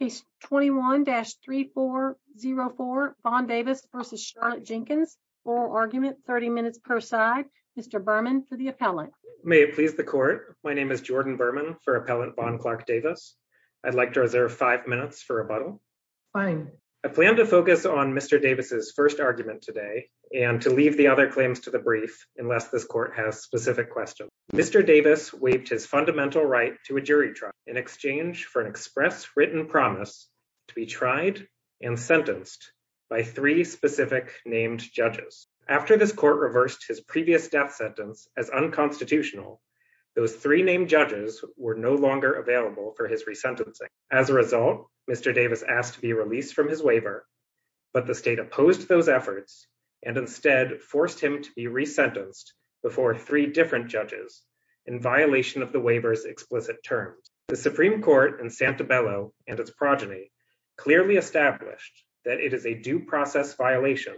Case 21-3404 Von Davis v. Charlotte Jenkins Oral Argument, 30 minutes per side Mr. Berman for the appellant May it please the Court My name is Jordan Berman for Appellant Von Clark Davis I'd like to reserve 5 minutes for rebuttal Fine I plan to focus on Mr. Davis' first argument today and to leave the other claims to the brief unless this Court has specific questions Mr. Davis waived his fundamental right to a jury trial in exchange for an express written promise to be tried and sentenced by three specific named judges After this Court reversed his previous death sentence as unconstitutional those three named judges were no longer available for his resentencing As a result, Mr. Davis asked to be released from his waiver but the state opposed those efforts and instead forced him to be resentenced before three different judges in violation of the waiver's explicit terms The Supreme Court in Santabello and its progeny clearly established that it is a due process violation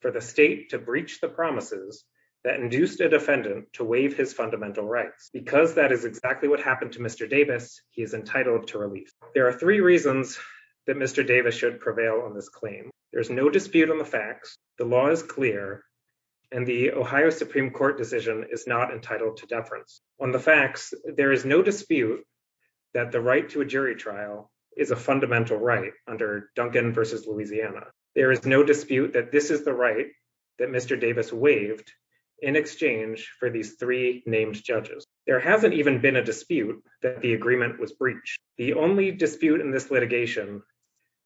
for the state to breach the promises that induced a defendant to waive his fundamental rights Because that is exactly what happened to Mr. Davis he is entitled to release There are three reasons that Mr. Davis should prevail on this claim There's no dispute on the facts The law is clear and the Ohio Supreme Court decision is not entitled to deference On the facts, there is no dispute that the right to a jury trial is a fundamental right under Duncan v. Louisiana There is no dispute that this is the right that Mr. Davis waived in exchange for these three named judges There hasn't even been a dispute that the agreement was breached The only dispute in this litigation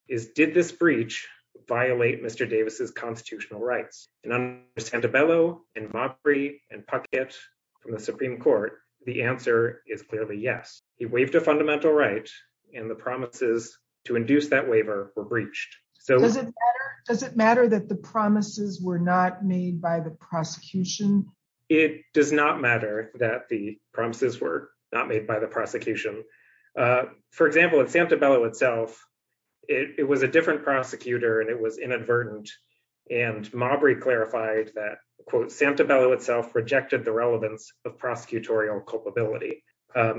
is did this breach violate Mr. Davis's constitutional rights? And under Santabello and Mopry and Puckett from the Supreme Court, the answer is clearly yes He waived a fundamental right and the promises to induce that waiver were breached So- Does it matter that the promises were not made by the prosecution? It does not matter that the promises were not made by the prosecution For example, at Santabello itself it was a different prosecutor and it was inadvertent and Mopry clarified that Santabello itself rejected the relevance of prosecutorial culpability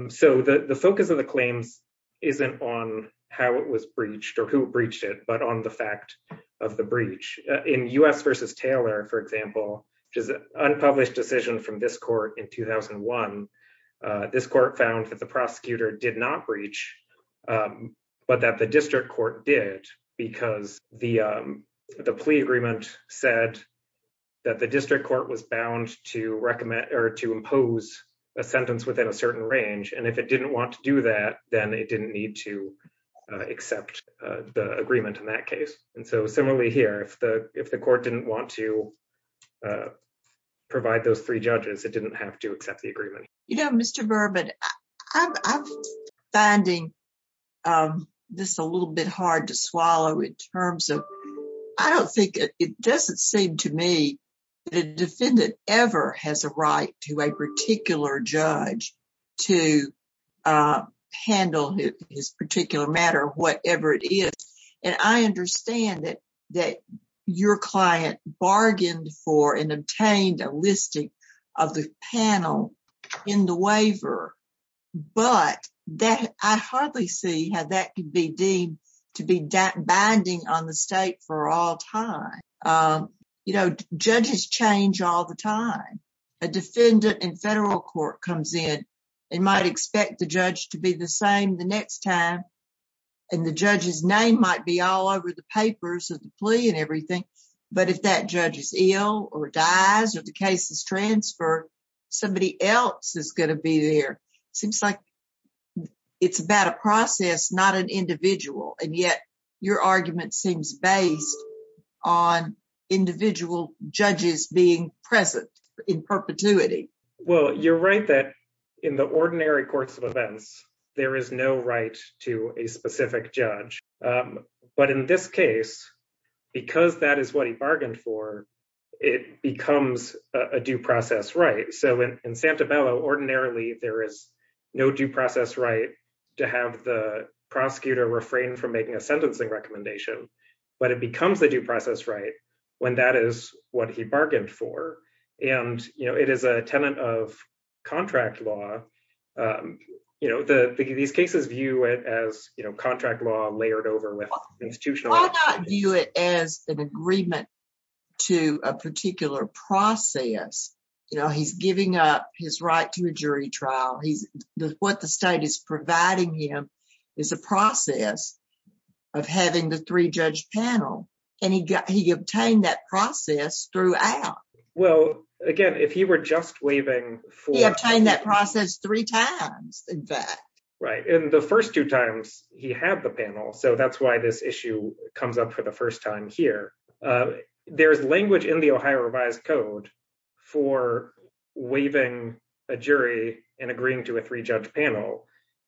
So the focus of the claims isn't on how it was breached or who breached it but on the fact of the breach In U.S. v. Taylor, for example which is an unpublished decision from this court in 2001 this court found that the prosecutor did not breach but that the district court did because the plea agreement said that the district court was bound to recommend or to impose a sentence within a certain range and if it didn't want to do that then it didn't need to accept the agreement in that case And so similarly here, if the court didn't want to provide those three judges it didn't have to accept the agreement You know, Mr. Berman, I'm finding this a little bit hard to swallow in terms of I don't think, it doesn't seem to me that a defendant ever has a right to a particular judge to handle his particular matter, whatever it is And I understand that your client bargained for and obtained a listing of the panel in the waiver but I hardly see how that could be deemed to be binding on the state for all time You know, judges change all the time A defendant in federal court comes in and might expect the judge to be the same the next time and the judge's name might be all over the papers of the plea and everything but if that judge is ill or dies or the case is transferred somebody else is gonna be there Seems like it's about a process, not an individual And yet your argument seems based on individual judges being present in perpetuity Well, you're right that in the ordinary courts of events there is no right to a specific judge But in this case, because that is what he bargained for it becomes a due process right So in Santabella, ordinarily there is no due process right to have the prosecutor refrain from making a sentencing recommendation but it becomes the due process right when that is what he bargained for And, you know, it is a tenant of contract law You know, these cases view it as, you know contract law layered over with institutional Why not view it as an agreement to a particular process? You know, he's giving up his right to a jury trial What the state is providing him is a process of having the three judge panel and he obtained that process throughout Well, again, if he were just waiving for He obtained that process three times in fact Right, and the first two times he had the panel so that's why this issue comes up for the first time here There's language in the Ohio revised code for waiving a jury and agreeing to a three judge panel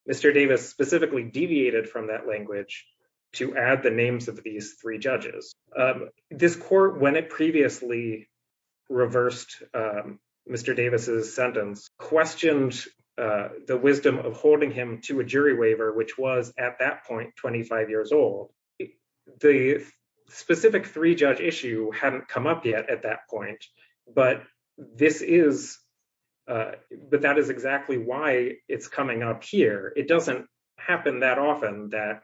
Mr. Davis specifically deviated from that language to add the names of these three judges This court, when it previously reversed Mr. Davis' sentence questioned the wisdom of holding him to a jury waiver which was at that point, 25 years old The specific three judge issue hadn't come up yet at that point But this is, but that is exactly why it's coming up here It doesn't happen that often that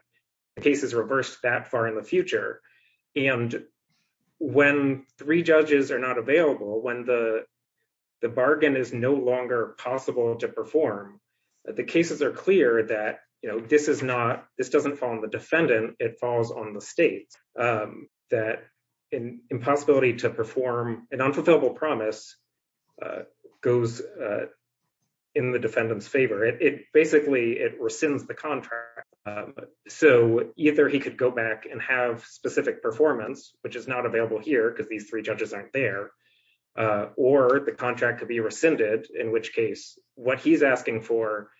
cases reversed that far in the future And when three judges are not available when the bargain is no longer possible to perform the cases are clear that, you know, this is not this doesn't fall on the defendant, it falls on the state that an impossibility to perform an unfulfillable promise goes in the defendant's favor It basically, it rescinds the contract So either he could go back and have specific performance which is not available here because these three judges aren't there or the contract could be rescinded in which case what he's asking for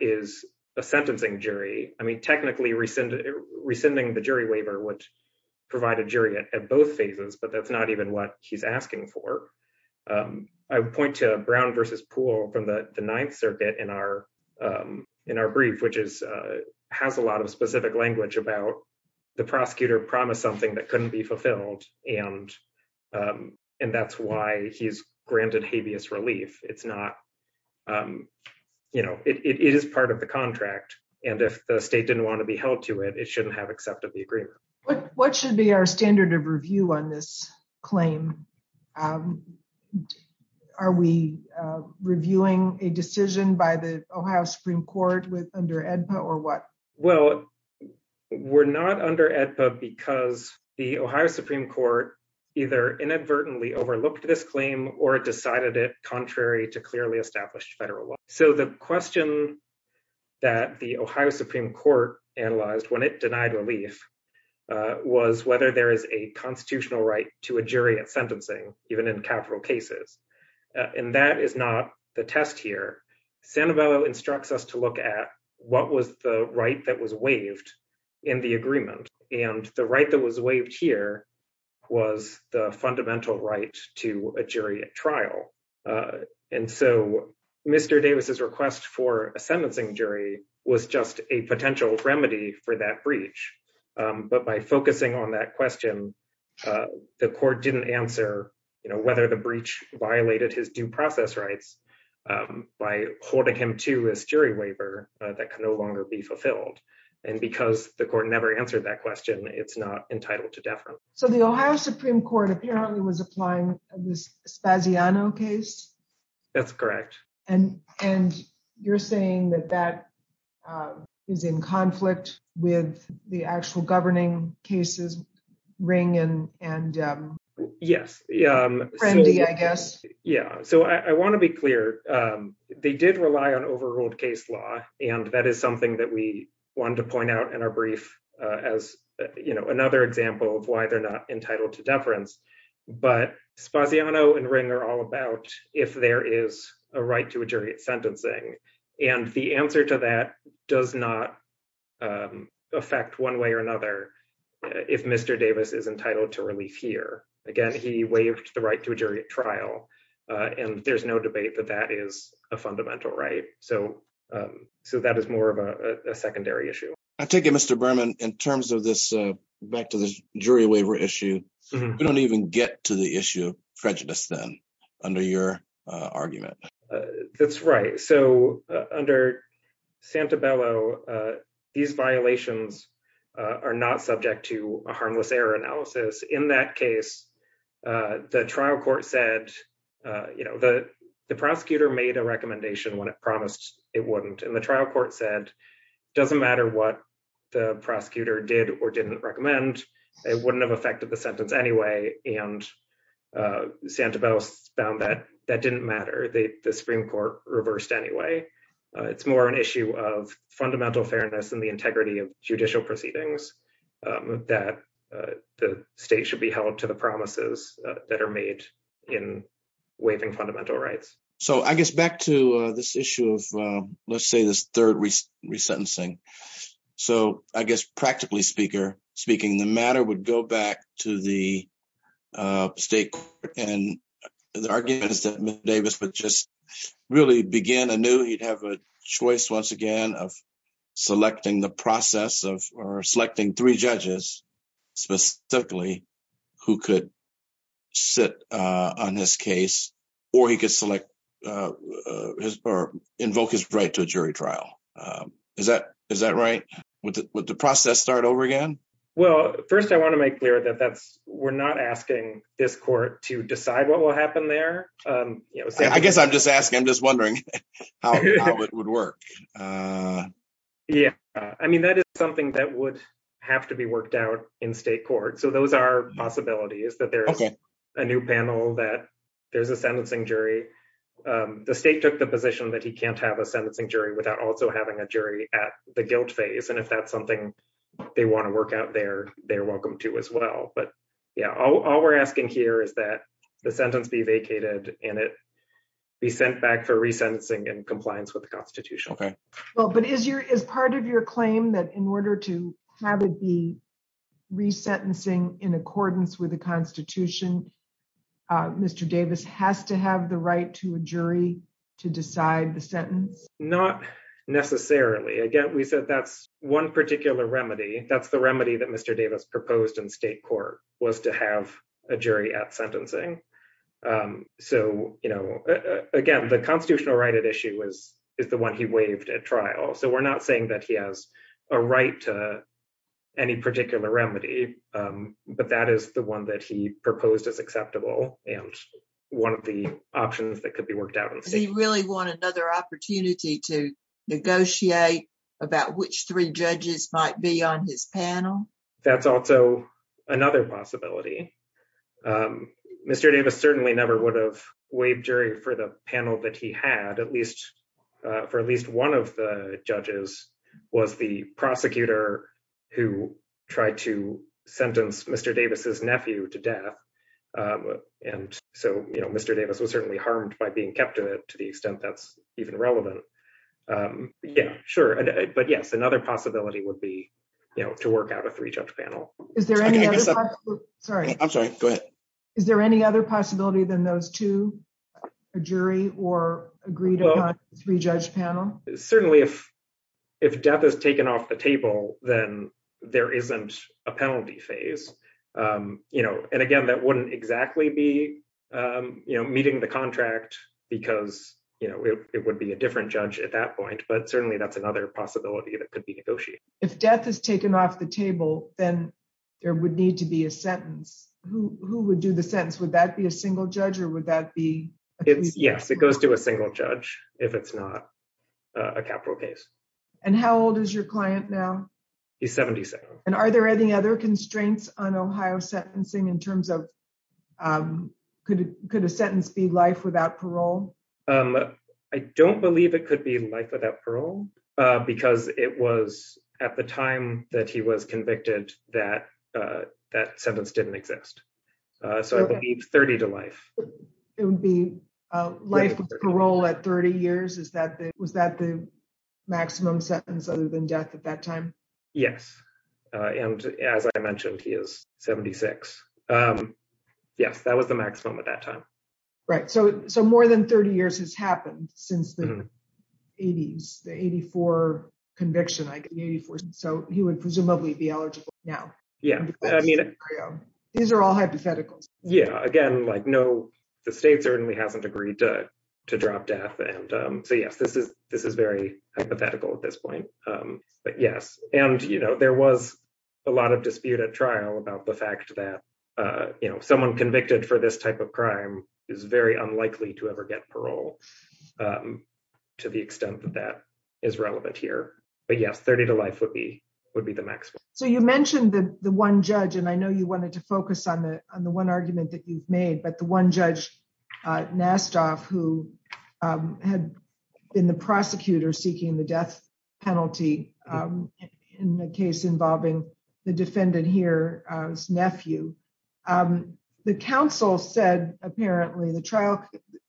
is a sentencing jury I mean, technically rescinding the jury waiver would provide a jury at both phases but that's not even what he's asking for I would point to Brown versus Poole from the Ninth Circuit in our brief which has a lot of specific language about the prosecutor promised something that couldn't be fulfilled and that's why he's granted habeas relief It's not, you know, it is part of the contract and if the state didn't want to be held to it it shouldn't have accepted the agreement What should be our standard of review on this claim? Are we reviewing a decision by the Ohio Supreme Court with under AEDPA or what? Well, we're not under AEDPA because the Ohio Supreme Court either inadvertently overlooked this claim or decided it contrary to clearly established federal law So the question that the Ohio Supreme Court analyzed when it denied relief was whether there is a constitutional right to a jury at sentencing, even in capital cases and that is not the test here Sanabella instructs us to look at what was the right that was waived in the agreement and the right that was waived here was the fundamental right to a jury at trial And so Mr. Davis's request for a sentencing jury was just a potential remedy for that breach but by focusing on that question, the court didn't answer, you know, whether the breach violated his due process rights by holding him to a jury waiver that can no longer be fulfilled And because the court never answered that question it's not entitled to deference So the Ohio Supreme Court apparently was applying this Spaziano case? That's correct And you're saying that that is in conflict with the actual governing cases, Ring and Friendly, I guess Yeah, so I wanna be clear they did rely on overruled case law and that is something that we wanted to point out in our brief as, you know, another example of why they're not entitled to deference but Spaziano and Ring are all about if there is a right to a jury at sentencing and the answer to that does not affect one way or another if Mr. Davis is entitled to relief here Again, he waived the right to a jury at trial and there's no debate that that is a fundamental right So that is more of a secondary issue I take it Mr. Berman in terms of this back to this jury waiver issue we don't even get to the issue of prejudice then under your argument That's right, so under Santabello these violations are not subject to a harmless error analysis In that case, the trial court said, you know, the prosecutor made a recommendation when it promised it wouldn't and the trial court said, doesn't matter what the prosecutor did or didn't recommend it wouldn't have affected the sentence anyway and Santabello found that that didn't matter the Supreme Court reversed anyway It's more an issue of fundamental fairness and the integrity of judicial proceedings that the state should be held to the promises that are made in waiving fundamental rights So I guess back to this issue of let's say this third resentencing So I guess practically speaking the matter would go back to the state court and the arguments that Mr. Davis would just really begin I knew he'd have a choice once again of selecting the process of selecting three judges specifically who could sit on this case or he could select or invoke his right to a jury trial Is that right? Would the process start over again? Well, first I want to make clear that that's we're not asking this court to decide what will happen there I guess I'm just asking, I'm just wondering how it would work Yeah, I mean, that is something that would have to be worked out in state court So those are possibilities that there's a new panel that there's a sentencing jury the state took the position that he can't have a sentencing jury without also having a jury at the guilt phase And if that's something they want to work out there they're welcome to as well But yeah, all we're asking here is that the sentence be vacated and it be sent back for resentencing and compliance with the constitution Well, but is part of your claim that in order to have it be resentencing in accordance with the constitution Mr. Davis has to have the right to a jury to decide the sentence Not necessarily Again, we said that's one particular remedy That's the remedy that Mr. Davis proposed in state court was to have a jury at sentencing So, again, the constitutional right at issue is the one he waived at trial So we're not saying that he has a right to any particular remedy but that is the one that he proposed as acceptable and one of the options that could be worked out in state Is there another opportunity to negotiate about which three judges might be on his panel? That's also another possibility Mr. Davis certainly never would have waived jury for the panel that he had at least for at least one of the judges was the prosecutor who tried to sentence Mr. Davis's nephew to death And so, you know, Mr. Davis was certainly harmed by being kept in it to the extent that that's even relevant Yeah, sure. But yes, another possibility would be, you know to work out a three judge panel Is there any other possibility? Sorry. I'm sorry, go ahead Is there any other possibility than those two? A jury or agreed upon three judge panel? Certainly if death is taken off the table then there isn't a penalty phase, you know And again, that wouldn't exactly be, you know it would be a different judge at that point but certainly that's another possibility that could be negotiated If death is taken off the table then there would need to be a sentence Who would do the sentence? Would that be a single judge or would that be? Yes, it goes to a single judge if it's not a capital case And how old is your client now? He's 77 And are there any other constraints on Ohio sentencing in terms of, could a sentence be life without parole? I don't believe it could be life without parole because it was at the time that he was convicted that that sentence didn't exist. So I believe 30 to life It would be life parole at 30 years. Is that the, was that the maximum sentence other than death at that time? Yes. And as I mentioned, he is 76. Yes, that was the maximum at that time. Right. So, so more than 30 years has happened since the 80s, the 84 conviction, like 84. So he would presumably be eligible now. Yeah. I mean, These are all hypotheticals. Yeah. Again, like no, the state certainly hasn't agreed to drop death. And so, yes, this is very hypothetical at this point, but yes. And you know, there was a lot of dispute at trial about the fact that, you know, someone convicted for this type of crime is very unlikely to ever get parole to the extent that that is relevant here. But yes, 30 to life would be, would be the maximum. So you mentioned the one judge, and I know you wanted to focus on the, on the one argument that you've made, but the one judge Nastov, who had been the prosecutor seeking the death penalty in the case involving the defendant here, his nephew. The council said, apparently the trial,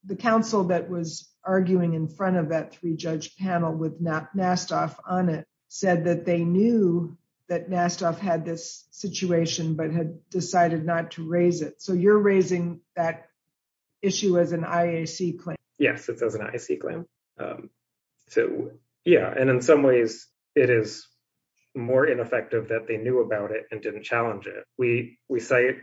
the council that was arguing in front of that three judge panel with Nastov on it said that they knew that Nastov had this situation, but had decided not to raise it. So you're raising that issue as an IAC claim. Yes. It's as an IAC claim. So yeah. And in some ways it is more ineffective that they knew about it and didn't challenge it. We cite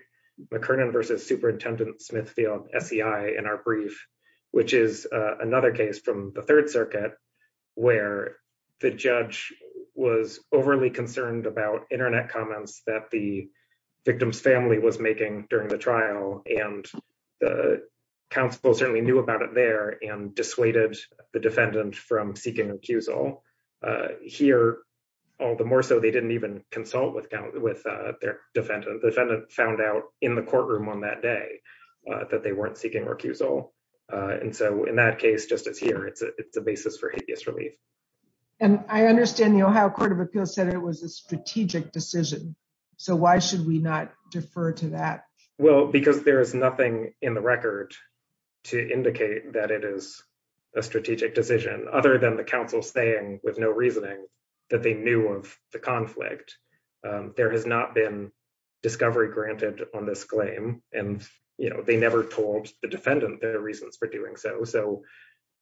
McKernan versus superintendent Smithfield, SCI in our brief, which is another case from the third circuit where the judge was overly concerned about internet comments that the victim's family was making during the trial. And the council certainly knew about it there and dissuaded the defendant from seeking accusal. Here, all the more so they didn't even consult with their defendant. The defendant found out in the courtroom on that day that they weren't seeking recusal. And so in that case, just as here, it's a basis for habeas relief. And I understand the Ohio Court of Appeals said it was a strategic decision. So why should we not defer to that? Well, because there is nothing in the record to indicate that it is a strategic decision other than the council saying with no reasoning that they knew of the conflict. There has not been discovery granted on this claim. And they never told the defendant their reasons for doing so. So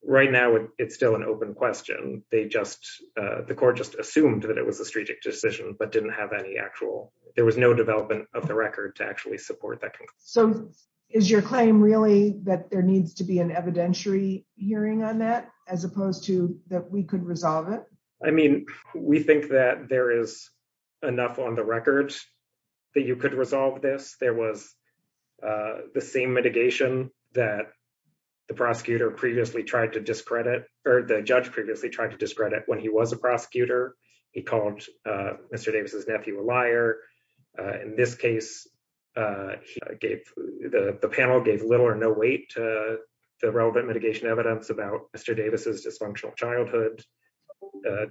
right now it's still an open question. They just, the court just assumed that it was a strategic decision, but didn't have any actual, there was no development of the record to actually support that conclusion. So is your claim really that there needs to be an evidentiary hearing on that as opposed to that we could resolve it? I mean, we think that there is enough on the record that you could resolve this. There was the same mitigation that the prosecutor previously tried to discredit or the judge previously tried to discredit when he was a prosecutor. He called Mr. Davis's nephew a liar. In this case, the panel gave little or no weight to the relevant mitigation evidence about Mr. Davis's dysfunctional childhood.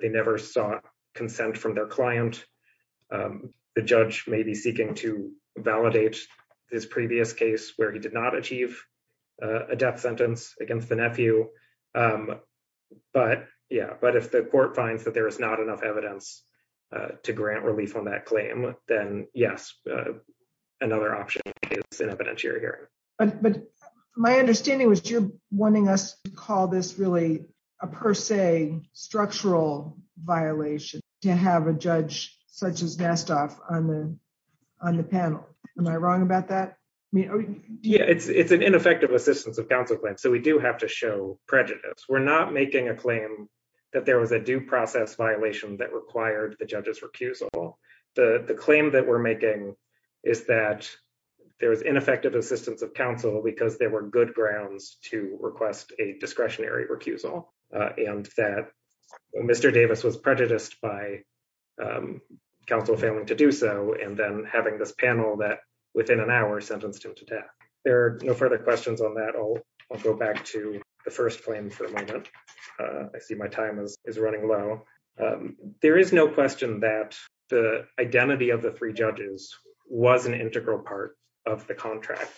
They never saw consent from their client. The judge may be seeking to validate his previous case where he did not achieve a death sentence against the nephew, but yeah. But if the court finds that there is not enough evidence to grant relief on that claim, then yes, another option is an evidentiary hearing. But my understanding was you're wanting us to call this really a per se structural violation to have a judge such as Nasdaq on the panel. Am I wrong about that? Yeah, it's an ineffective assistance of counsel claim. So we do have to show prejudice. We're not making a claim that there was a due process violation that required the judge's recusal. The claim that we're making is that there was ineffective assistance of counsel because there were good grounds to request a discretionary recusal and that Mr. Davis was prejudiced by counsel failing to do so. And then having this panel that within an hour sentenced him to death. There are no further questions on that. I'll go back to the first claim for a moment. I see my time is running low. There is no question that the identity of the three judges was an integral part of the contract.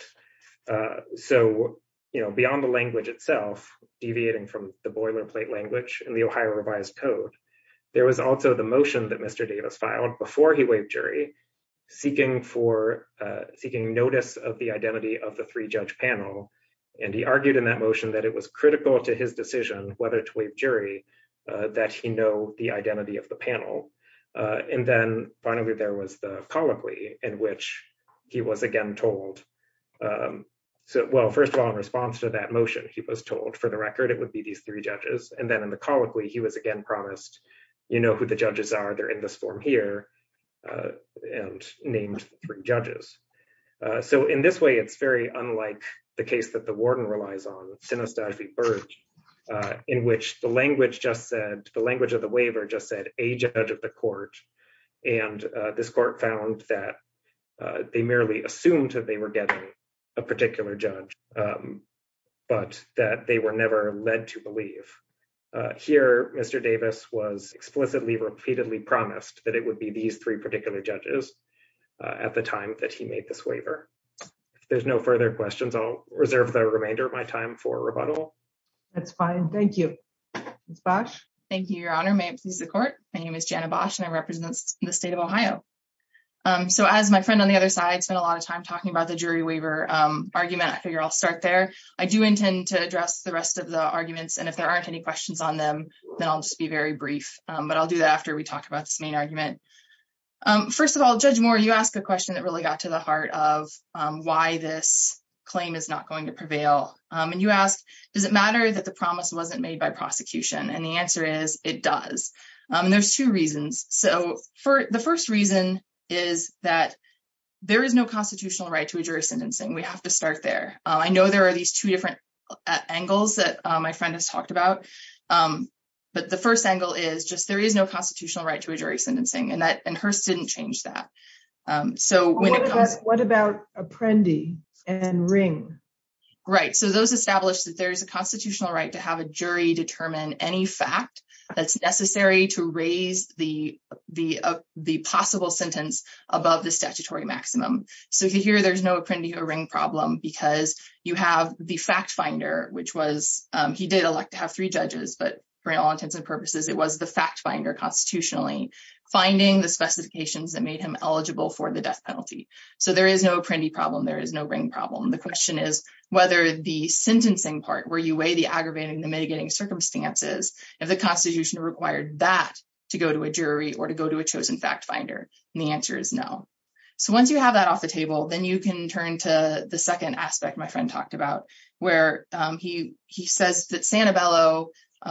So, beyond the language itself, deviating from the boilerplate language and the Ohio revised code, there was also the motion that Mr. Davis filed before he waived jury seeking notice of the identity of the three judge panel. And he argued in that motion that it was critical to his decision whether to waive jury that he know the identity of the panel. And then finally, there was the colloquy in which he was again told. So, well, first of all, in response to that motion, he was told for the record, it would be these three judges. And then in the colloquy, he was again promised, you know who the judges are, they're in this form here and named three judges. So, in this way, it's very unlike the case that the warden relies on, Sinostad v. Burge, in which the language of the waiver just said a judge of the court. And this court found that they merely assumed that they were getting a particular judge, but that they were never led to believe. Here, Mr. Davis was explicitly repeatedly promised that it would be these three particular judges at the time that he made this waiver. If there's no further questions, I'll reserve the remainder of my time for rebuttal. That's fine, thank you. Ms. Bosch. Thank you, Your Honor. May it please the court. My name is Jana Bosch and I represent the state of Ohio. So, as my friend on the other side spent a lot of time talking about the jury waiver argument, I figure I'll start there. I do intend to address the rest of the arguments and if there aren't any questions on them, then I'll just be very brief. But I'll do that after we talk about this main argument. First of all, Judge Moore, you asked a question that really got to the heart of why this claim is not going to prevail. And you asked, does it matter that the promise wasn't made by prosecution? And the answer is, it does. And there's two reasons. So, the first reason is that there is no constitutional right to a jury sentencing. We have to start there. I know there are these two different angles that my friend has talked about, but the first angle is just, there is no constitutional right to a jury sentencing and Hearst didn't change that. So, when it comes- What about Apprendi and Ring? Right, so those established that there's a constitutional right to have a jury determine any fact that's necessary to raise the possible sentence above the statutory maximum. So, if you hear there's no Apprendi or Ring problem because you have the fact finder, which was, he did elect to have three judges, but for all intents and purposes, it was the fact finder constitutionally finding the specifications that made him eligible for the death penalty. So, there is no Apprendi problem. There is no Ring problem. The question is whether the sentencing part where you weigh the aggravating and the mitigating circumstances, if the constitution required that to go to a jury or to go to a chosen fact finder, and the answer is no. So, once you have that off the table, then you can turn to the second aspect my friend talked about, where he says that Santabello,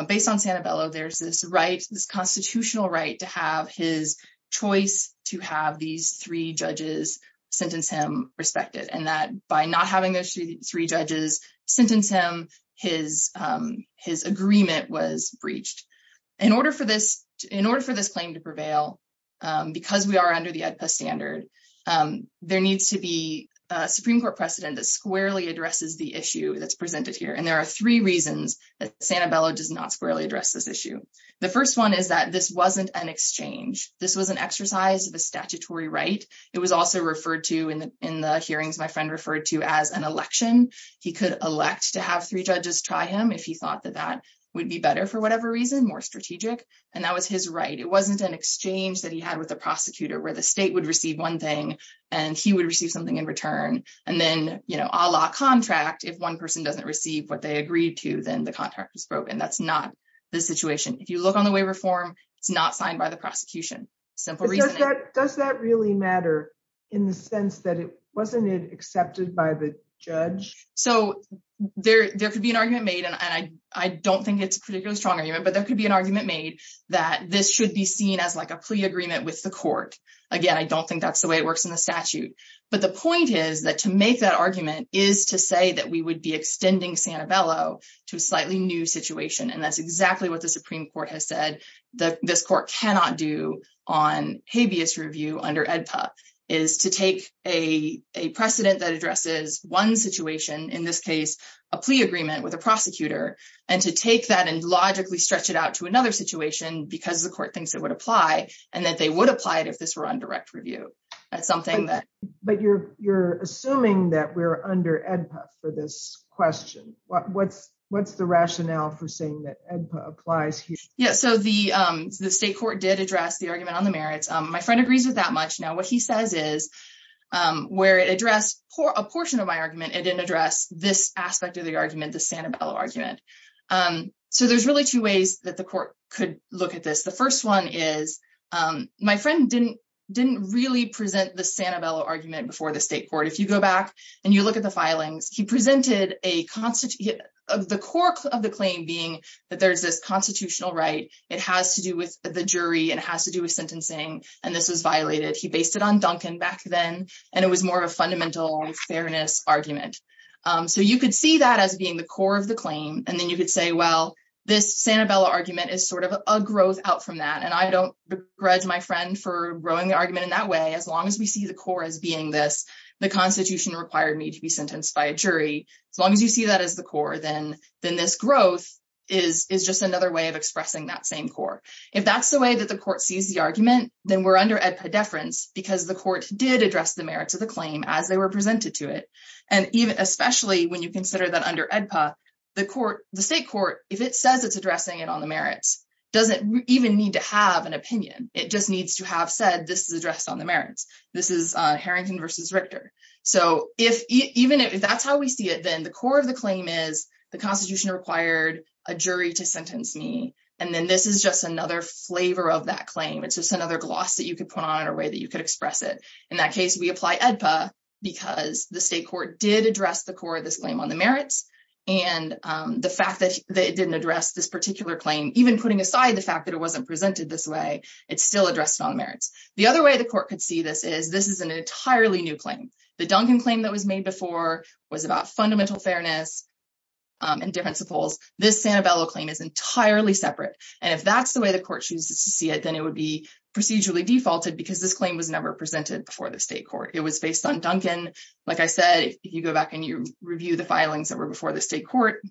based on Santabello, there's this constitutional right to have his choice to have these three judges sentence him respected, and that by not having those three judges sentence him, his agreement was breached. In order for this claim to prevail, because we are under the AEDPA standard, there needs to be a Supreme Court precedent that squarely addresses the issue that's presented here. And there are three reasons that Santabello does not squarely address this issue. The first one is that this wasn't an exchange. This was an exercise of a statutory right. It was also referred to in the hearings my friend referred to as an election. He could elect to have three judges try him if he thought that that would be better for whatever reason, more strategic, and that was his right. It wasn't an exchange that he had with the prosecutor where the state would receive one thing and he would receive something in return. And then, you know, a la contract, if one person doesn't receive what they agreed to, then the contract was broken. That's not the situation. If you look on the waiver form, it's not signed by the prosecution. Simple reason. Does that really matter in the sense that it wasn't accepted by the judge? So there could be an argument made, and I don't think it's a particularly strong argument, but there could be an argument made that this should be seen as like a plea agreement with the court. Again, I don't think that's the way it works in the statute. But the point is that to make that argument is to say that we would be extending Santabello to a slightly new situation. And that's exactly what the Supreme Court has said that this court cannot do on habeas review under AEDPA is to take a precedent that addresses one situation, in this case, a plea agreement with a prosecutor, and to take that and logically stretch it out to another situation because the court thinks it would apply and that they would apply it if this were on direct review. That's something that- But you're assuming that we're under AEDPA for this question. What's the rationale for saying that AEDPA applies here? Yeah, so the state court did address the argument on the merits. My friend agrees with that much. Now, what he says is where it addressed a portion of my argument, it didn't address this aspect of the argument, the Santabello argument. So there's really two ways that the court could look at this. The first one is, my friend didn't really present the Santabello argument before the state court. If you go back and you look at the filings, he presented the core of the claim being that there's this constitutional right, it has to do with the jury, it has to do with sentencing, and this was violated. He based it on Duncan back then, and it was more of a fundamental fairness argument. So you could see that as being the core of the claim, and then you could say, well, this Santabello argument is sort of a growth out from that, and I don't begrudge my friend for rowing the argument in that way. As long as we see the core as being this, the constitution required me to be sentenced by a jury. As long as you see that as the core, then this growth is just another way of expressing that same core. If that's the way that the court sees the argument, then we're under AEDPA deference because the court did address the merits of the claim as they were presented to it. And even, especially when you consider that under AEDPA, the court, the state court, if it says it's addressing it on the merits, doesn't even need to have an opinion. It just needs to have said, this is addressed on the merits. This is Harrington versus Richter. So even if that's how we see it, then the core of the claim is the constitution required a jury to sentence me, and then this is just another flavor of that claim. It's just another gloss that you could put on in a way that you could express it. In that case, we apply AEDPA because the state court did address the core of this claim on the merits. And the fact that it didn't address this particular claim, even putting aside the fact that it wasn't presented this way, it's still addressed on the merits. The other way the court could see this is this is an entirely new claim. The Duncan claim that was made before was about fundamental fairness and difference of poles. This Sanibello claim is entirely separate. And if that's the way the court chooses to see it, then it would be procedurally defaulted because this claim was never presented before the state court. It was based on Duncan. Like I said, if you go back and you review the filings that were before the state court,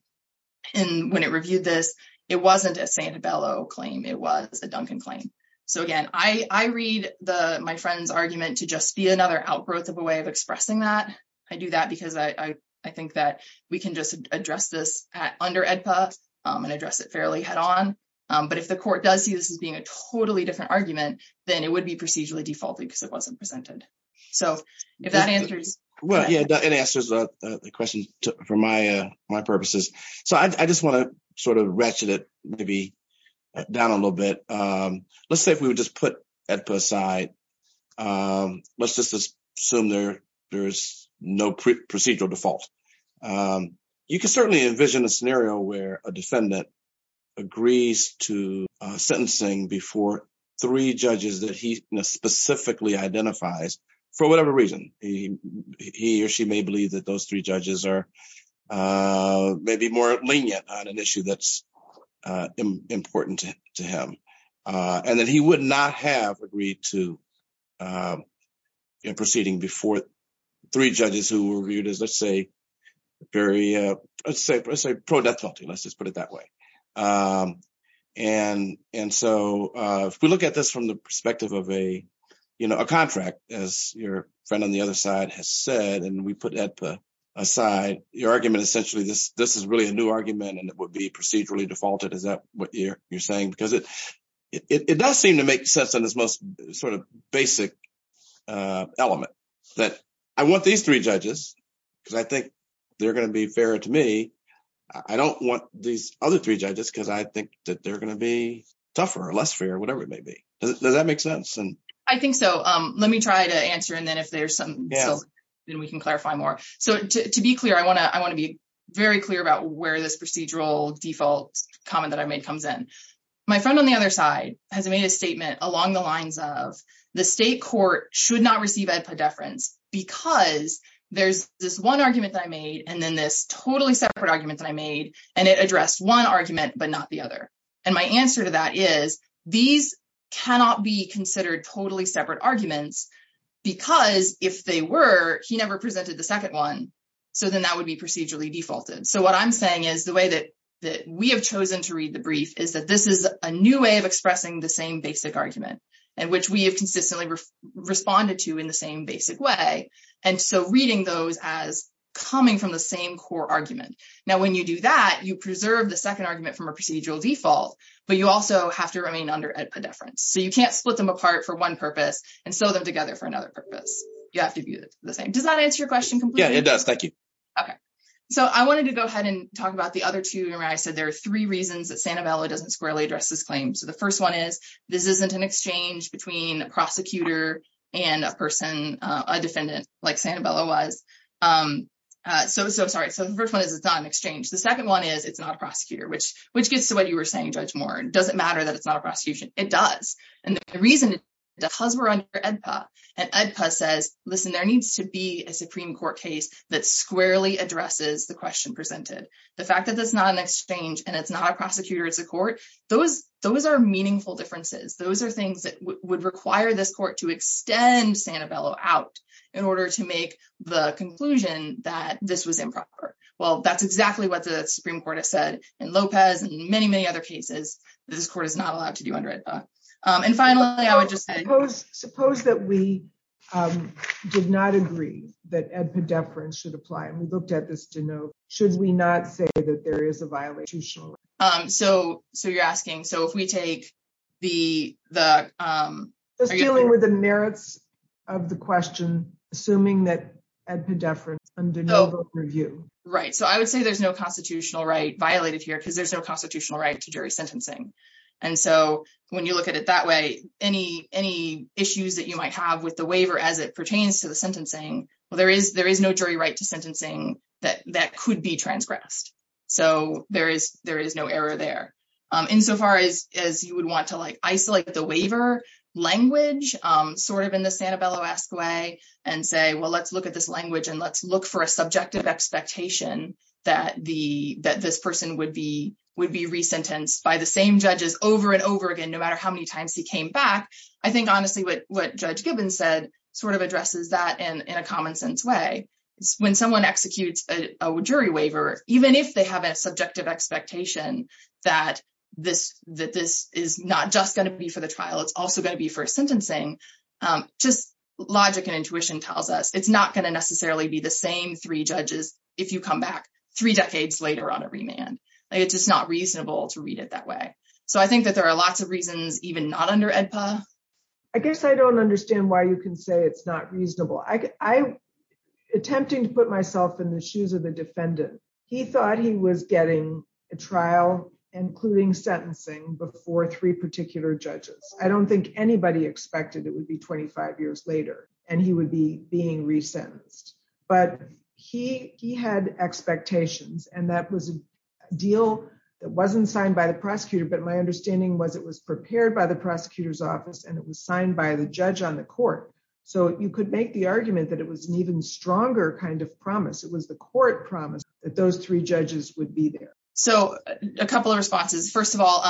and when it reviewed this, it wasn't a Sanibello claim, it was a Duncan claim. So again, I read my friend's argument to just be another outgrowth of a way of expressing that. I do that because I think that we can just address this under AEDPA and address it fairly head on. But if the court does see this as being a totally different argument, then it would be procedurally defaulted because it wasn't presented. So if that answers. Well, yeah, it answers the question for my purposes. So I just wanna sort of ratchet it to be down a little bit. Let's say if we would just put AEDPA aside, let's just assume there's no procedural default. You can certainly envision a scenario where a defendant agrees to sentencing before three judges that he specifically identifies for whatever reason. He or she may believe that those three judges are maybe more lenient on an issue that's important to him. And that he would not have agreed to proceeding before three judges who were viewed as, let's say, pro death penalty, let's just put it that way. And so if we look at this from the perspective of a contract as your friend on the other side has said, and we put AEDPA aside, your argument essentially, this is really a new argument and it would be procedurally defaulted. Is that what you're saying? Because it does seem to make sense in this most sort of basic element that I want these three judges because I think they're gonna be fair to me. I don't want these other three judges because I think that they're gonna be tougher or less fair or whatever it may be. Does that make sense? I think so. Let me try to answer. And then if there's some, then we can clarify more. So to be clear, I wanna be very clear about where this procedural default comment that I made comes in. My friend on the other side has made a statement along the lines of the state court should not receive AEDPA deference because there's this one argument that I made and then this totally separate argument that I made and it addressed one argument, but not the other. And my answer to that is these cannot be considered totally separate arguments because if they were, he never presented the second one. So then that would be procedurally defaulted. So what I'm saying is the way that we have chosen to read the brief is that this is a new way of expressing the same basic argument and which we have consistently responded to in the same basic way. And so reading those as coming from the same core argument. Now, when you do that, you preserve the second argument from a procedural default, but you also have to remain under AEDPA deference. So you can't split them apart for one purpose and sew them together for another purpose. You have to be the same. Does that answer your question completely? Yeah, it does. Thank you. Okay. So I wanted to go ahead and talk about the other two. Remember I said there are three reasons that Santa Bella doesn't squarely address this claim. So the first one is this isn't an exchange between a prosecutor and a person, a defendant like Santa Bella was. So, sorry. So the first one is it's not an exchange. The second one is it's not a prosecutor, which gets to what you were saying, Judge Moore. Does it matter that it's not a prosecution? It does. And the reason is because we're under AEDPA and AEDPA says, listen, there needs to be a Supreme Court case that squarely addresses the question presented. The fact that that's not an exchange and it's not a prosecutor, it's a court, those are meaningful differences. Those are things that would require this court to extend Santa Bella out in order to make the conclusion that this was improper. Well, that's exactly what the Supreme Court has said in Lopez and many, many other cases that this court is not allowed to do under AEDPA. And finally, I would just add- Suppose that we did not agree that AEDPA deference should apply. And we looked at this to know, should we not say that there is a violation? So you're asking, so if we take the- Just dealing with the merits of the question, assuming that AEDPA deference under no vote review. Right, so I would say there's no constitutional right violated here because there's no constitutional right to jury sentencing. And so when you look at it that way, any issues that you might have with the waiver as it pertains to the sentencing, well, there is no jury right to sentencing that could be transgressed. So there is no error there. Insofar as you would want to isolate the waiver language sort of in the Santabello-esque way and say, well, let's look at this language and let's look for a subjective expectation that this person would be re-sentenced by the same judges over and over again, no matter how many times he came back. I think honestly what Judge Gibbons said sort of addresses that in a common sense way. When someone executes a jury waiver, even if they have a subjective expectation that this is not just gonna be for the trial, it's also gonna be for sentencing, just logic and intuition tells us it's not gonna necessarily be the same three judges if you come back three decades later on a remand. Like it's just not reasonable to read it that way. So I think that there are lots of reasons even not under AEDPA. I guess I don't understand why you can say it's not reasonable. I'm attempting to put myself in the shoes of the defendant. He thought he was getting a trial, including sentencing before three particular judges. I don't think anybody expected it would be 25 years later and he would be being re-sentenced, but he had expectations and that was a deal that wasn't signed by the prosecutor, but my understanding was it was prepared by the prosecutor's office and it was signed by the judge on the court. So you could make the argument that it was an even stronger kind of promise. It was the court promise that those three judges would be there. So a couple of responses. First of all,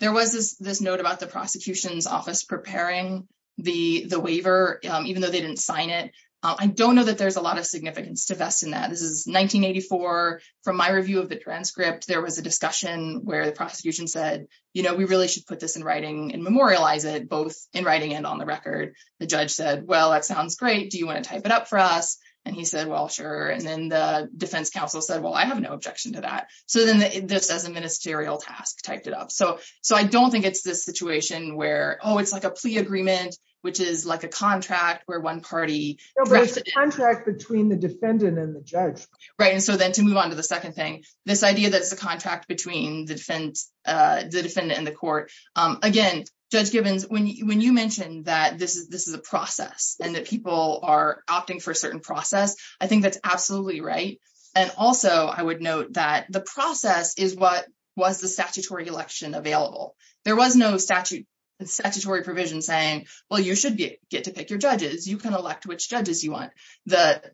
there was this note about the prosecution's office preparing the waiver, even though they didn't sign it. I don't know that there's a lot of significance to vest in that. This is 1984. From my review of the transcript, there was a discussion where the prosecution said, we really should put this in writing and memorialize it both in writing and on the record. The judge said, well, that sounds great. Do you wanna type it up for us? And he said, well, sure. And then the defense counsel said, well, I have no objection to that. So then this as a ministerial task, typed it up. So I don't think it's this situation where, oh, it's like a plea agreement, which is like a contract where one party- No, but it's a contract between the defendant and the judge. Right, and so then to move on to the second thing, this idea that it's a contract between the defendant and the court. Again, Judge Gibbons, when you mentioned that this is a process and that people are opting for a certain process, I think that's absolutely right. And also I would note that the process is what was the statutory election available. There was no statutory provision saying, well, you should get to pick your judges. You can elect which judges you want.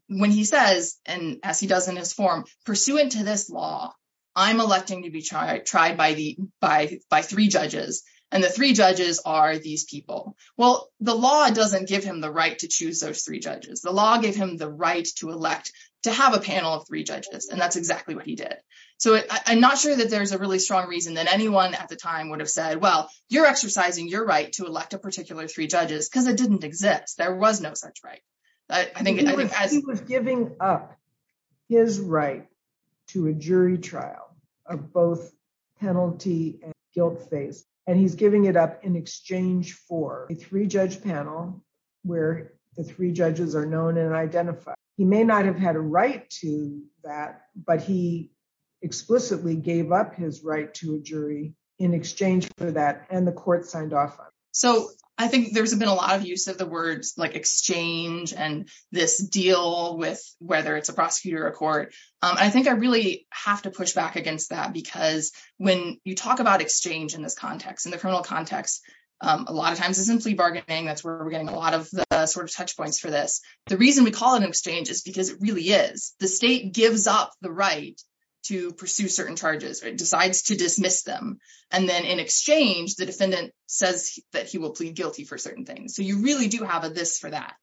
When he says, and as he does in his form, pursuant to this law, I'm electing to be tried by three judges. And the three judges are these people. Well, the law doesn't give him the right to choose those three judges. The law gave him the right to elect, to have a panel of three judges. And that's exactly what he did. So I'm not sure that there's a really strong reason that anyone at the time would have said, well, you're exercising your right to elect a particular three judges, because it didn't exist. There was no such right. I think- He was giving up his right to a jury trial of both penalty and guilt phase. And he's giving it up in exchange for a three judge panel where the three judges are known and identified. He may not have had a right to that, but he explicitly gave up his right to a jury in exchange for that. And the court signed off on it. So I think there's been a lot of use of the words like exchange and this deal with whether it's a prosecutor or a court. I think I really have to push back against that because when you talk about exchange in this context, in the criminal context, a lot of times it's in plea bargaining. That's where we're getting a lot of the sort of touch points for this. The reason we call it an exchange is because it really is. The state gives up the right to pursue certain charges or it decides to dismiss them. And then in exchange, the defendant says that he will plead guilty for certain things. So you really do have a this for that.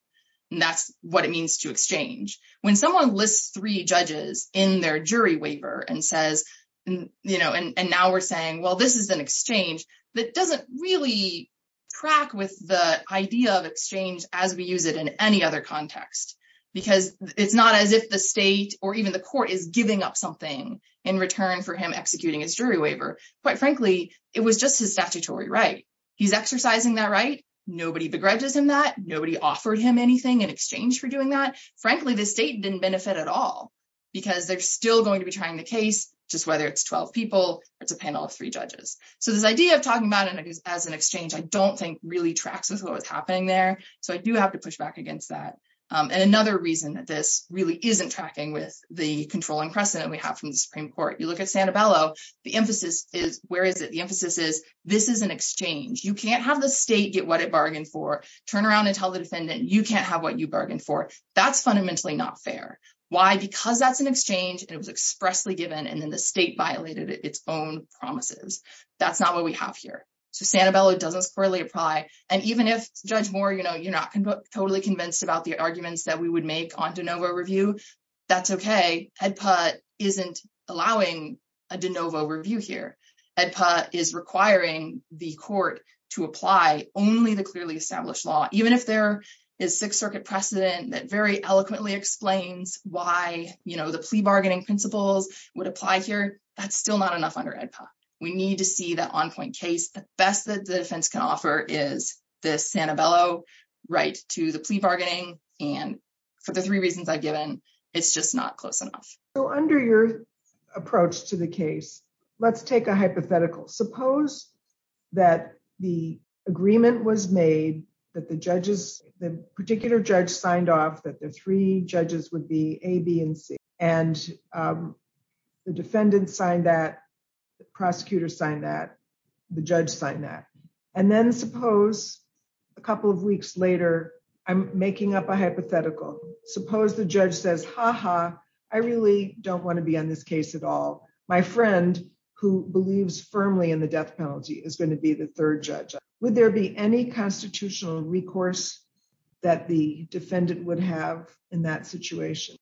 And that's what it means to exchange. When someone lists three judges in their jury waiver and says, and now we're saying, well, this is an exchange that doesn't really crack with the idea of exchange as we use it in any other context, because it's not as if the state or even the court is giving up something in return for him executing his jury waiver. Quite frankly, it was just his statutory right. He's exercising that right. Nobody begrudges him that. Nobody offered him anything in exchange for doing that. Frankly, the state didn't benefit at all because they're still going to be trying the case just whether it's 12 people or it's a panel of three judges. So this idea of talking about it as an exchange, I don't think really tracks with what was happening there. So I do have to push back against that. And another reason that this really isn't tracking with the controlling precedent we have from the Supreme Court. You look at Santabello, the emphasis is, where is it? The emphasis is, this is an exchange. You can't have the state get what it bargained for, turn around and tell the defendant, you can't have what you bargained for. That's fundamentally not fair. Why? Because that's an exchange and it was expressly given and then the state violated its own promises. That's not what we have here. So Santabello doesn't squarely apply. And even if Judge Moore, you're not totally convinced about the arguments that we would make on de novo review, that's okay. HEDPA isn't allowing a de novo review here. HEDPA is requiring the court to apply only the clearly established law. Even if there is Sixth Circuit precedent that very eloquently explains why the plea bargaining principles would apply here, that's still not enough under HEDPA. We need to see that on-point case. The best that the defense can offer is the Santabello right to the plea bargaining. And for the three reasons I've given, it's just not close enough. So under your approach to the case, let's take a hypothetical. Suppose that the agreement was made that the particular judge signed off that the three judges would be A, B, and C. And the defendant signed that, the prosecutor signed that, the judge signed that. And then suppose a couple of weeks later, I'm making up a hypothetical. Suppose the judge says, ha ha, I really don't wanna be on this case at all. My friend who believes firmly in the death penalty is gonna be the third judge. Would there be any constitutional recourse that the defendant would have in that situation?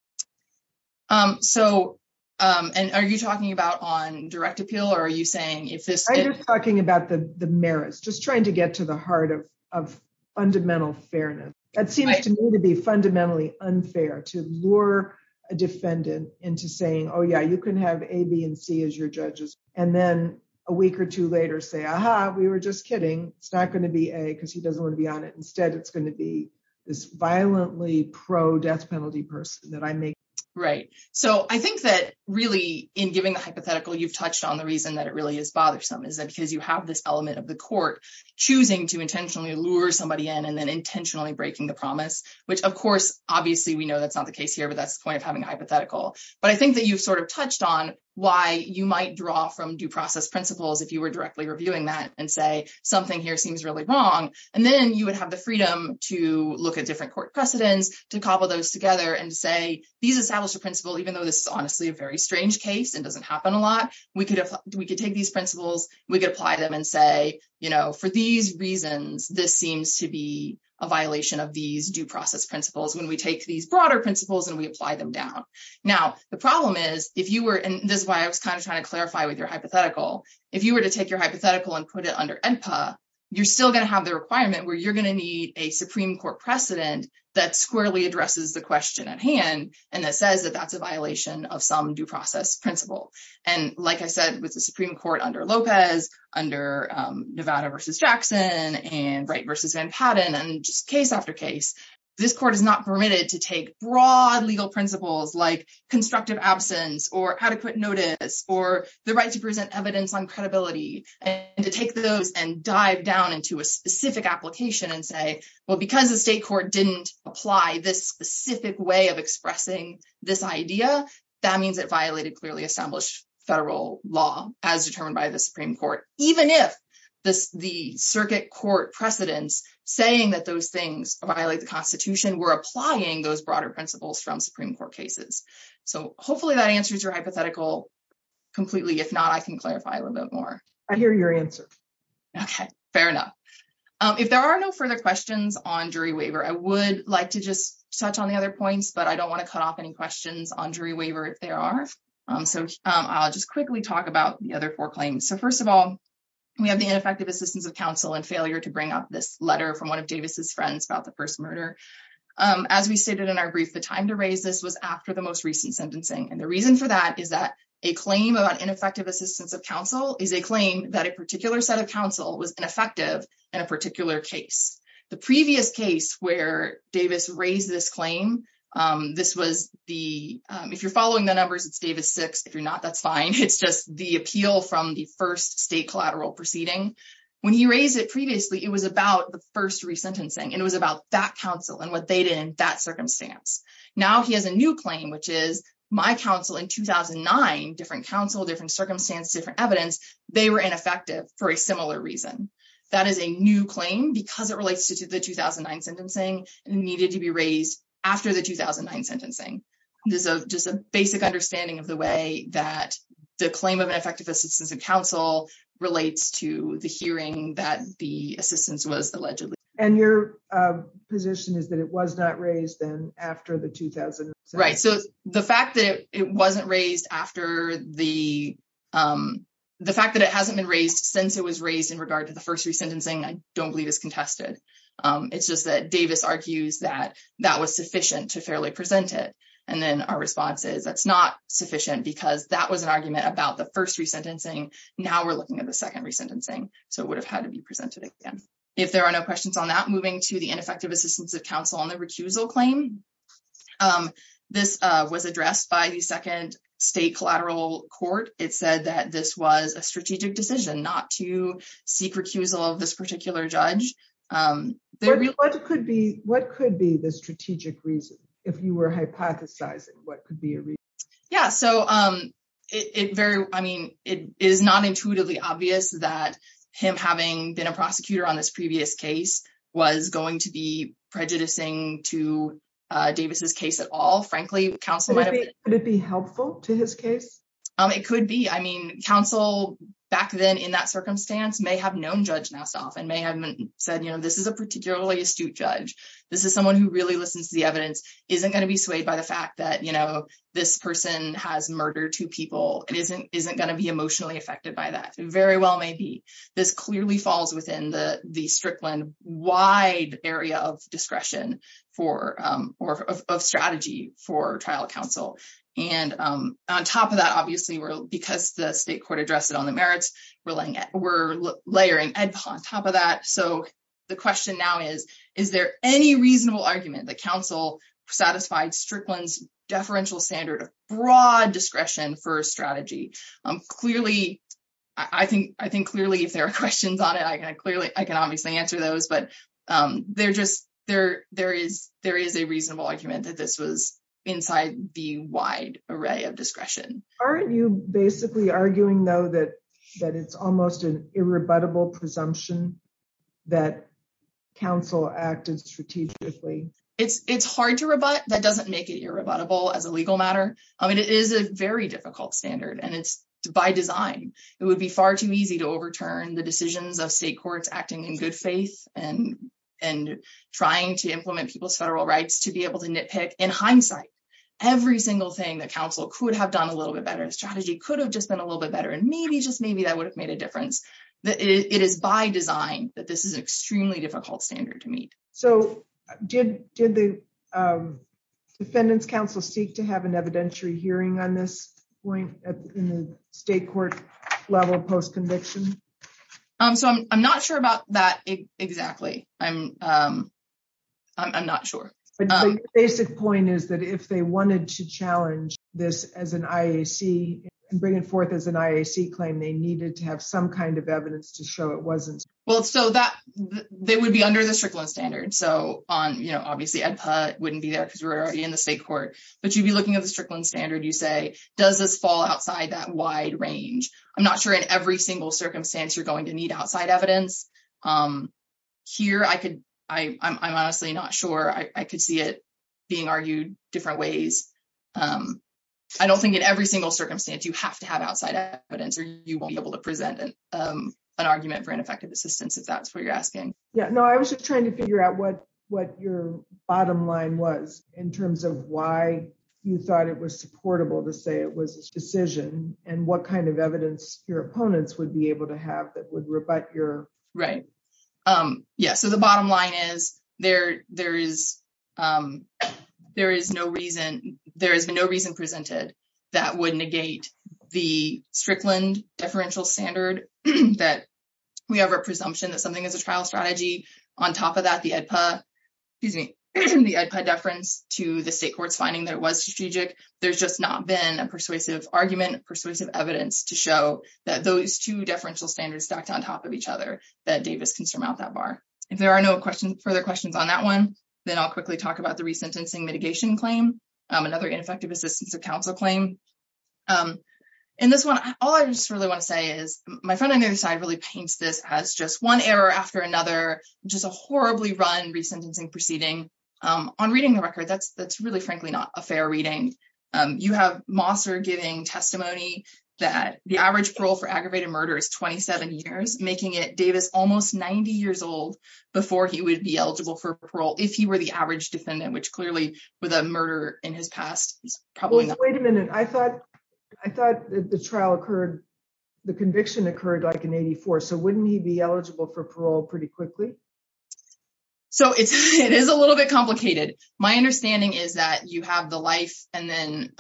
So, and are you talking about on direct appeal or are you saying if this- I'm just talking about the merits, just trying to get to the heart of fundamental fairness. That seems to me to be fundamentally unfair to lure a defendant into saying, oh yeah, you can have A, B, and C as your judges. And then a week or two later say, aha, we were just kidding. It's not gonna be A, cause he doesn't wanna be on it. Instead it's gonna be this violently pro-death penalty person that I make- Right. So I think that really in giving the hypothetical, you've touched on the reason that it really is bothersome is that because you have this element of the court choosing to intentionally lure somebody in and then intentionally breaking the promise, which of course, obviously we know that's not the case here, but that's the point of having a hypothetical. But I think that you've sort of touched on why you might draw from due process principles if you were directly reviewing that and say, something here seems really wrong. And then you would have the freedom to look at different court precedents, to cobble those together and say, these establish a principle, even though this is honestly a very strange case and doesn't happen a lot, we could take these principles, we could apply them and say, for these reasons, this seems to be a violation of these due process principles when we take these broader principles and we apply them down. Now, the problem is, if you were, and this is why I was kind of trying to clarify with your hypothetical. If you were to take your hypothetical and put it under ENPA, you're still gonna have the requirement where you're gonna need a Supreme Court precedent that squarely addresses the question at hand. And that says that that's a violation of some due process principle. And like I said, with the Supreme Court under Lopez, under Nevada versus Jackson and Wright versus Van Patten and just case after case, this court is not permitted to take broad legal principles like constructive absence or adequate notice or the right to present evidence on credibility and to take those and dive down into a specific application and say, well, because the state court didn't apply this specific way of expressing this idea, that means it violated clearly established federal law as determined by the Supreme Court, even if the circuit court precedents saying that those things violate the constitution were applying those broader principles from Supreme Court cases. So hopefully that answers your hypothetical completely. If not, I can clarify a little bit more. I hear your answer. Okay, fair enough. If there are no further questions on jury waiver, I would like to just touch on the other points, but I don't wanna cut off any questions on jury waiver if there are. So I'll just quickly talk about the other four claims. So first of all, we have the ineffective assistance of counsel and failure to bring up this letter from one of Davis's friends about the first murder. As we stated in our brief, the time to raise this was after the most recent sentencing. And the reason for that is that a claim about ineffective assistance of counsel is a claim that a particular set of counsel was ineffective in a particular case. The previous case where Davis raised this claim, this was the, if you're following the numbers, it's Davis six. If you're not, that's fine. It's just the appeal from the first state collateral proceeding. When he raised it previously, it was about the first resentencing. And it was about that counsel and what they did in that circumstance. Now he has a new claim, which is my counsel in 2009, different counsel, different circumstance, different evidence, they were ineffective for a similar reason. That is a new claim because it relates to the 2009 sentencing and needed to be raised after the 2009 sentencing. This is just a basic understanding of the way that the claim of ineffective assistance of counsel relates to the hearing that the assistance was allegedly. And your position is that it was not raised then after the 2007. Right, so the fact that it wasn't raised after the, the fact that it hasn't been raised since it was raised in regard to the first resentencing, I don't believe is contested. It's just that Davis argues that that was sufficient to fairly present it. And then our response is that's not sufficient because that was an argument about the first resentencing. Now we're looking at the second resentencing. So it would have had to be presented again. If there are no questions on that, moving to the ineffective assistance of counsel on the recusal claim. This was addressed by the second state collateral court. It said that this was a strategic decision not to seek recusal of this particular judge. What could be the strategic reason if you were hypothesizing what could be a reason? Yeah, so it very, I mean, it is not intuitively obvious that him having been a prosecutor on this previous case was going to be prejudicing to Davis's case at all. Frankly, counsel might have- Would it be helpful to his case? It could be. I mean, counsel back then in that circumstance may have known Judge Nassof and may have said, you know, this is a particularly astute judge. This is someone who really listens to the evidence, isn't gonna be swayed by the fact that, you know, this person has murdered two people and isn't gonna be emotionally affected by that. Very well may be. This clearly falls within the Strickland wide area of discretion for, or of strategy for trial counsel. And on top of that, obviously, because the state court addressed it on the merits, we're layering on top of that. So the question now is, is there any reasonable argument that counsel satisfied Strickland's deferential standard of broad discretion for strategy? Clearly, I think clearly if there are questions on it, I can obviously answer those, but there is a reasonable argument that this was inside the wide array of discretion. Aren't you basically arguing though that it's almost an irrebuttable presumption that counsel acted strategically? It's hard to rebut, that doesn't make it irrebuttable as a legal matter. I mean, it is a very difficult standard and it's by design. It would be far too easy to overturn the decisions of state courts acting in good faith and trying to implement people's federal rights to be able to nitpick in hindsight, every single thing that counsel could have done a little bit better. Strategy could have just been a little bit better and maybe just maybe that would have made a difference. That it is by design that this is extremely difficult standard to meet. So did the defendant's counsel seek to have an evidentiary hearing on this point in the state court level post-conviction? So I'm not sure about that exactly. I'm not sure. Basic point is that if they wanted to challenge this as an IAC and bring it forth as an IAC claim, they needed to have some kind of evidence to show it wasn't. Well, so that they would be under the Strickland standard. So on, you know, obviously EDPA wouldn't be there because we're already in the state court, but you'd be looking at the Strickland standard. You say, does this fall outside that wide range? I'm not sure in every single circumstance you're going to need outside evidence. Here, I could, I'm honestly not sure. I could see it being argued different ways. I don't think in every single circumstance you have to have outside evidence or you won't be able to present an argument for ineffective assistance if that's what you're asking. Yeah, no, I was just trying to figure out what your bottom line was in terms of why you thought it was supportable to say it was a decision and what kind of evidence your opponents would be able to have that would rebut your- Right, yeah. So the bottom line is there is no reason, there has been no reason presented that would negate the Strickland deferential standard that we have a presumption that something is a trial strategy. On top of that, the EDPA, excuse me, the EDPA deference to the state court's finding that it was strategic, there's just not been a persuasive argument, persuasive evidence to show that those two deferential standards stacked on top of each other that Davis can surmount that bar. If there are no further questions on that one, then I'll quickly talk about the resentencing mitigation claim, another ineffective assistance of counsel claim. In this one, all I just really want to say is my friend on the other side really paints this as just one error after another, just a horribly run resentencing proceeding. On reading the record, that's really frankly not a fair reading. You have Mosser giving testimony that the average parole for aggravated murder is 27 years, making it Davis almost 90 years old before he would be eligible for parole if he were the average defendant, which clearly with a murder in his past is probably- Wait a minute, I thought the trial occurred, the conviction occurred like in 84. So wouldn't he be eligible for parole pretty quickly? So it is a little bit complicated. My understanding is that you have the life and then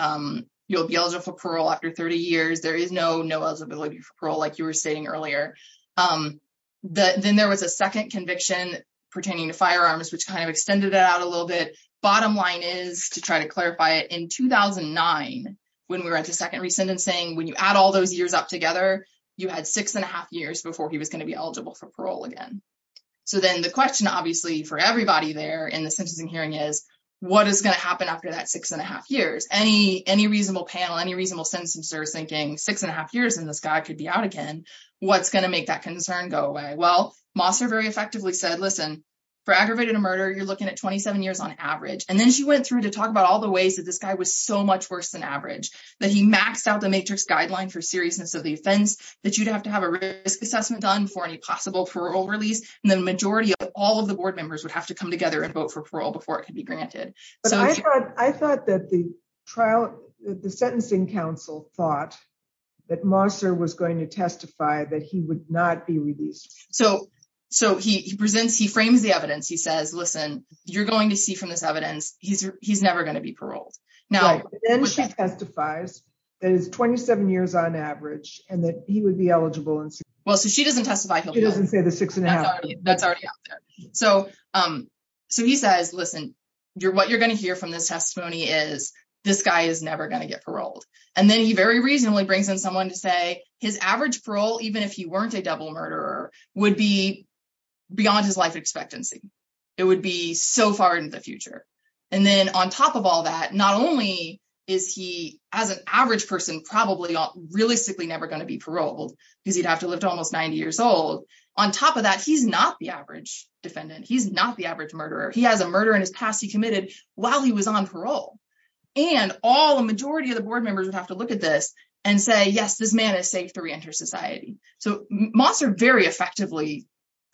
you'll be eligible for parole after 30 years. There is no eligibility for parole like you were stating earlier. Then there was a second conviction pertaining to firearms, which kind of extended it out a little bit. Bottom line is, to try to clarify it, in 2009, when we were at the second resentencing, when you add all those years up together, you had six and a half years before he was gonna be eligible for parole again. So then the question obviously for everybody there in the sentencing hearing is, what is gonna happen after that six and a half years? Any reasonable panel, any reasonable sentencers thinking, six and a half years and this guy could be out again, what's gonna make that concern go away? Well, Mosser very effectively said, listen, for aggravated murder, you're looking at 27 years on average. And then she went through to talk about all the ways that this guy was so much worse than average, that he maxed out the matrix guideline for seriousness of the offense, that you'd have to have a risk assessment done for any possible parole release. And the majority of all of the board members would have to come together and vote for parole before it could be granted. So- But I thought that the trial, the sentencing council thought that Mosser was going to testify that he would not be released. So he presents, he frames the evidence. He says, listen, you're going to see from this evidence, he's never gonna be paroled. Now- Well, so she doesn't testify he'll be out. He doesn't say the six and a half. That's already out there. So he says, listen, what you're gonna hear from this testimony is, this guy is never gonna get paroled. And then he very reasonably brings in someone to say, his average parole, even if he weren't a double murderer, would be beyond his life expectancy. It would be so far into the future. not only is he, as an average person, probably really not gonna be paroled, realistically never gonna be paroled because he'd have to live to almost 90 years old. On top of that, he's not the average defendant. He's not the average murderer. He has a murder in his past he committed while he was on parole. And all the majority of the board members would have to look at this and say, yes, this man is safe to reenter society. So Mosser very effectively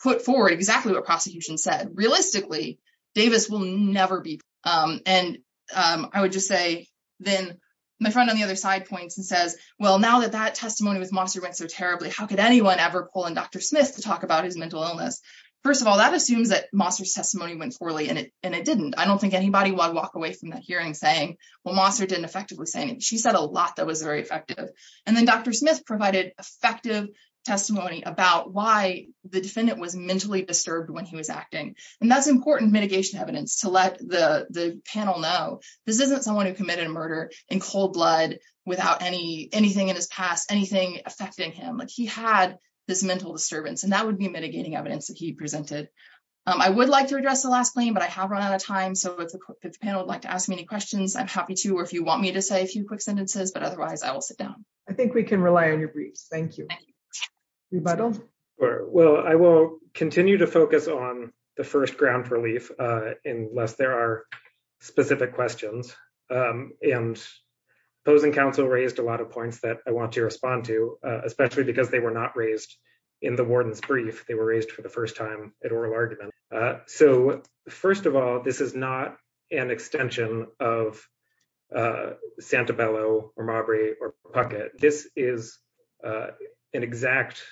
put forward exactly what prosecution said. Realistically, Davis will never be. And I would just say, then my friend on the other side points and says, well, now that that testimony with Mosser went so terribly, how could anyone ever pull in Dr. Smith to talk about his mental illness? First of all, that assumes that Mosser's testimony went poorly and it didn't. I don't think anybody would walk away from that hearing saying, well, Mosser didn't effectively say anything. She said a lot that was very effective. And then Dr. Smith provided effective testimony about why the defendant was mentally disturbed when he was acting. And that's important mitigation evidence to let the panel know, this isn't someone who committed a murder in cold blood without anything in his past, anything affecting him. Like he had this mental disturbance and that would be mitigating evidence that he presented. I would like to address the last claim, but I have run out of time. So if the panel would like to ask me any questions, I'm happy to, or if you want me to say a few quick sentences, but otherwise I will sit down. I think we can rely on your briefs. Thank you. Rebuttal? Well, I will continue to focus on the first ground relief unless there are specific questions and opposing counsel raised a lot of points that I want to respond to, especially because they were not raised in the warden's brief. They were raised for the first time at oral argument. So first of all, this is not an extension of Santabello or Marbury or Puckett. This is an exact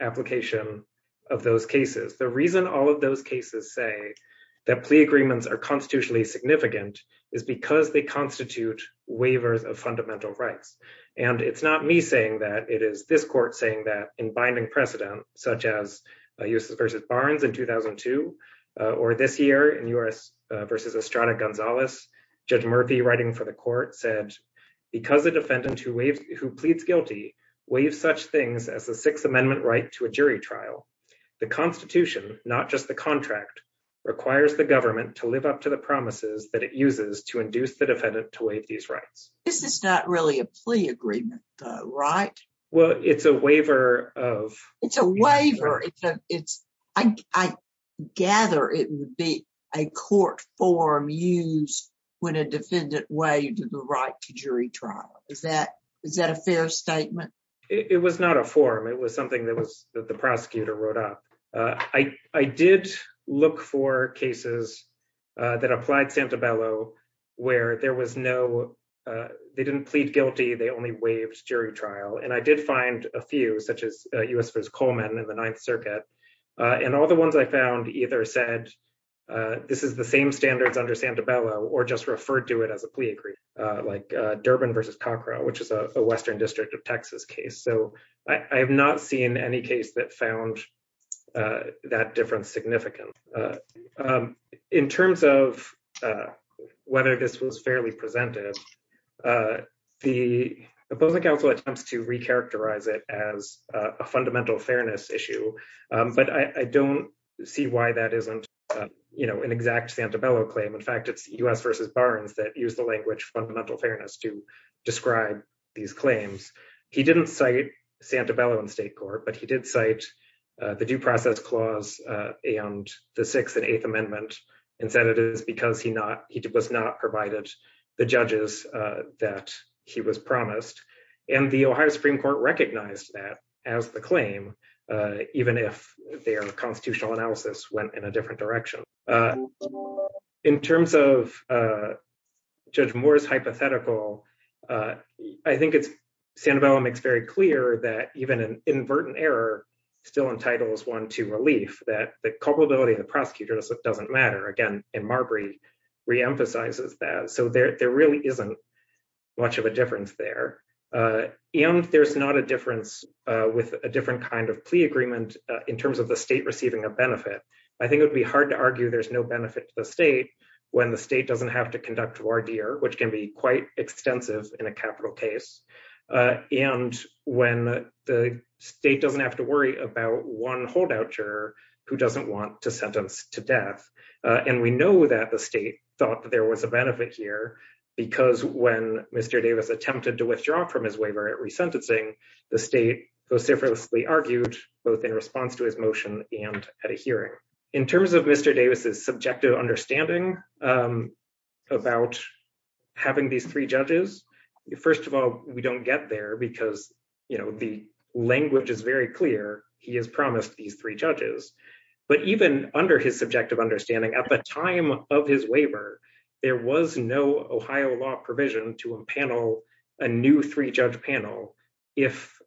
application of those cases. The reason all of those cases say that plea agreements are constitutionally significant is because they constitute waivers of fundamental rights. And it's not me saying that, it is this court saying that in binding precedent, such as U.S. v. Barnes in 2002, or this year in U.S. v. Estrada Gonzalez, Judge Murphy writing for the court said, because the defendant who pleads guilty waives such things as the Sixth Amendment right to a jury trial, the constitution, not just the contract, requires the government to live up to the promises that it uses to induce the defendant to waive these rights. This is not really a plea agreement though, right? Well, it's a waiver of- It's a waiver. I gather it would be a court form used when a defendant waived the right to jury trial. Is that a fair statement? It was not a form. It was something that the prosecutor wrote up. I did look for cases that applied Santabello where there was no- They didn't plead guilty. They only waived jury trial. And I did find a few, such as U.S. v. Coleman in the Ninth Circuit. And all the ones I found either said, this is the same standards under Santabello, or just referred to it as a plea agreement, like Durbin v. Cockrell, which is a Western District of Texas case. So I have not seen any case that found that difference significant. In terms of whether this was fairly presented, the opposing counsel attempts to recharacterize it as a fundamental fairness issue, but I don't see why that isn't an exact Santabello claim. In fact, it's U.S. v. Barnes that used the language fundamental fairness to describe these claims. He didn't cite Santabello in state court, but he did cite the Due Process Clause and the Sixth and Eighth Amendment and said it is because he was not provided the judges that he was promised. And the Ohio Supreme Court recognized that as the claim, even if their constitutional analysis went in a different direction. In terms of Judge Moore's hypothetical, I think Santabello makes very clear that even an inadvertent error still entitles one to relief, that the culpability of the prosecutor doesn't matter. Again, and Marbury reemphasizes that. So there really isn't much of a difference there. And there's not a difference with a different kind of plea agreement in terms of the state receiving a benefit. I think it would be hard to argue there's no benefit to the state when the state doesn't have to conduct voir dire, which can be quite extensive in a capital case. And when the state doesn't have to worry about one holdout juror who doesn't want to sentence to death. And we know that the state thought that there was a benefit here because when Mr. Davis attempted to withdraw from his waiver at resentencing, the state vociferously argued both in response to his motion and at a hearing. In terms of Mr. Davis's subjective understanding about having these three judges, first of all, we don't get there because the language is very clear. He has promised these three judges, but even under his subjective understanding at the time of his waiver, there was no Ohio law provision to impanel a new three judge panel if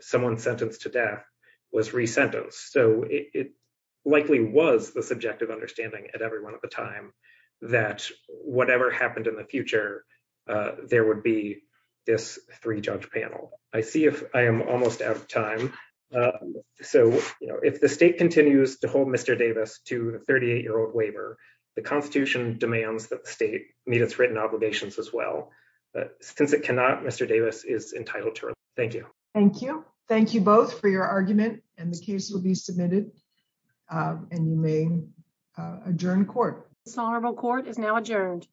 someone sentenced to death was resentenced. So it likely was the subjective understanding at every one of the time. That whatever happened in the future, there would be this three judge panel. I see if I am almost out of time. So if the state continues to hold Mr. Davis to the 38 year old waiver, the constitution demands that the state meet its written obligations as well. Since it cannot, Mr. Davis is entitled to it. Thank you. Thank you. Thank you both for your argument and the case will be submitted and you may adjourn court. This honorable court is now adjourned.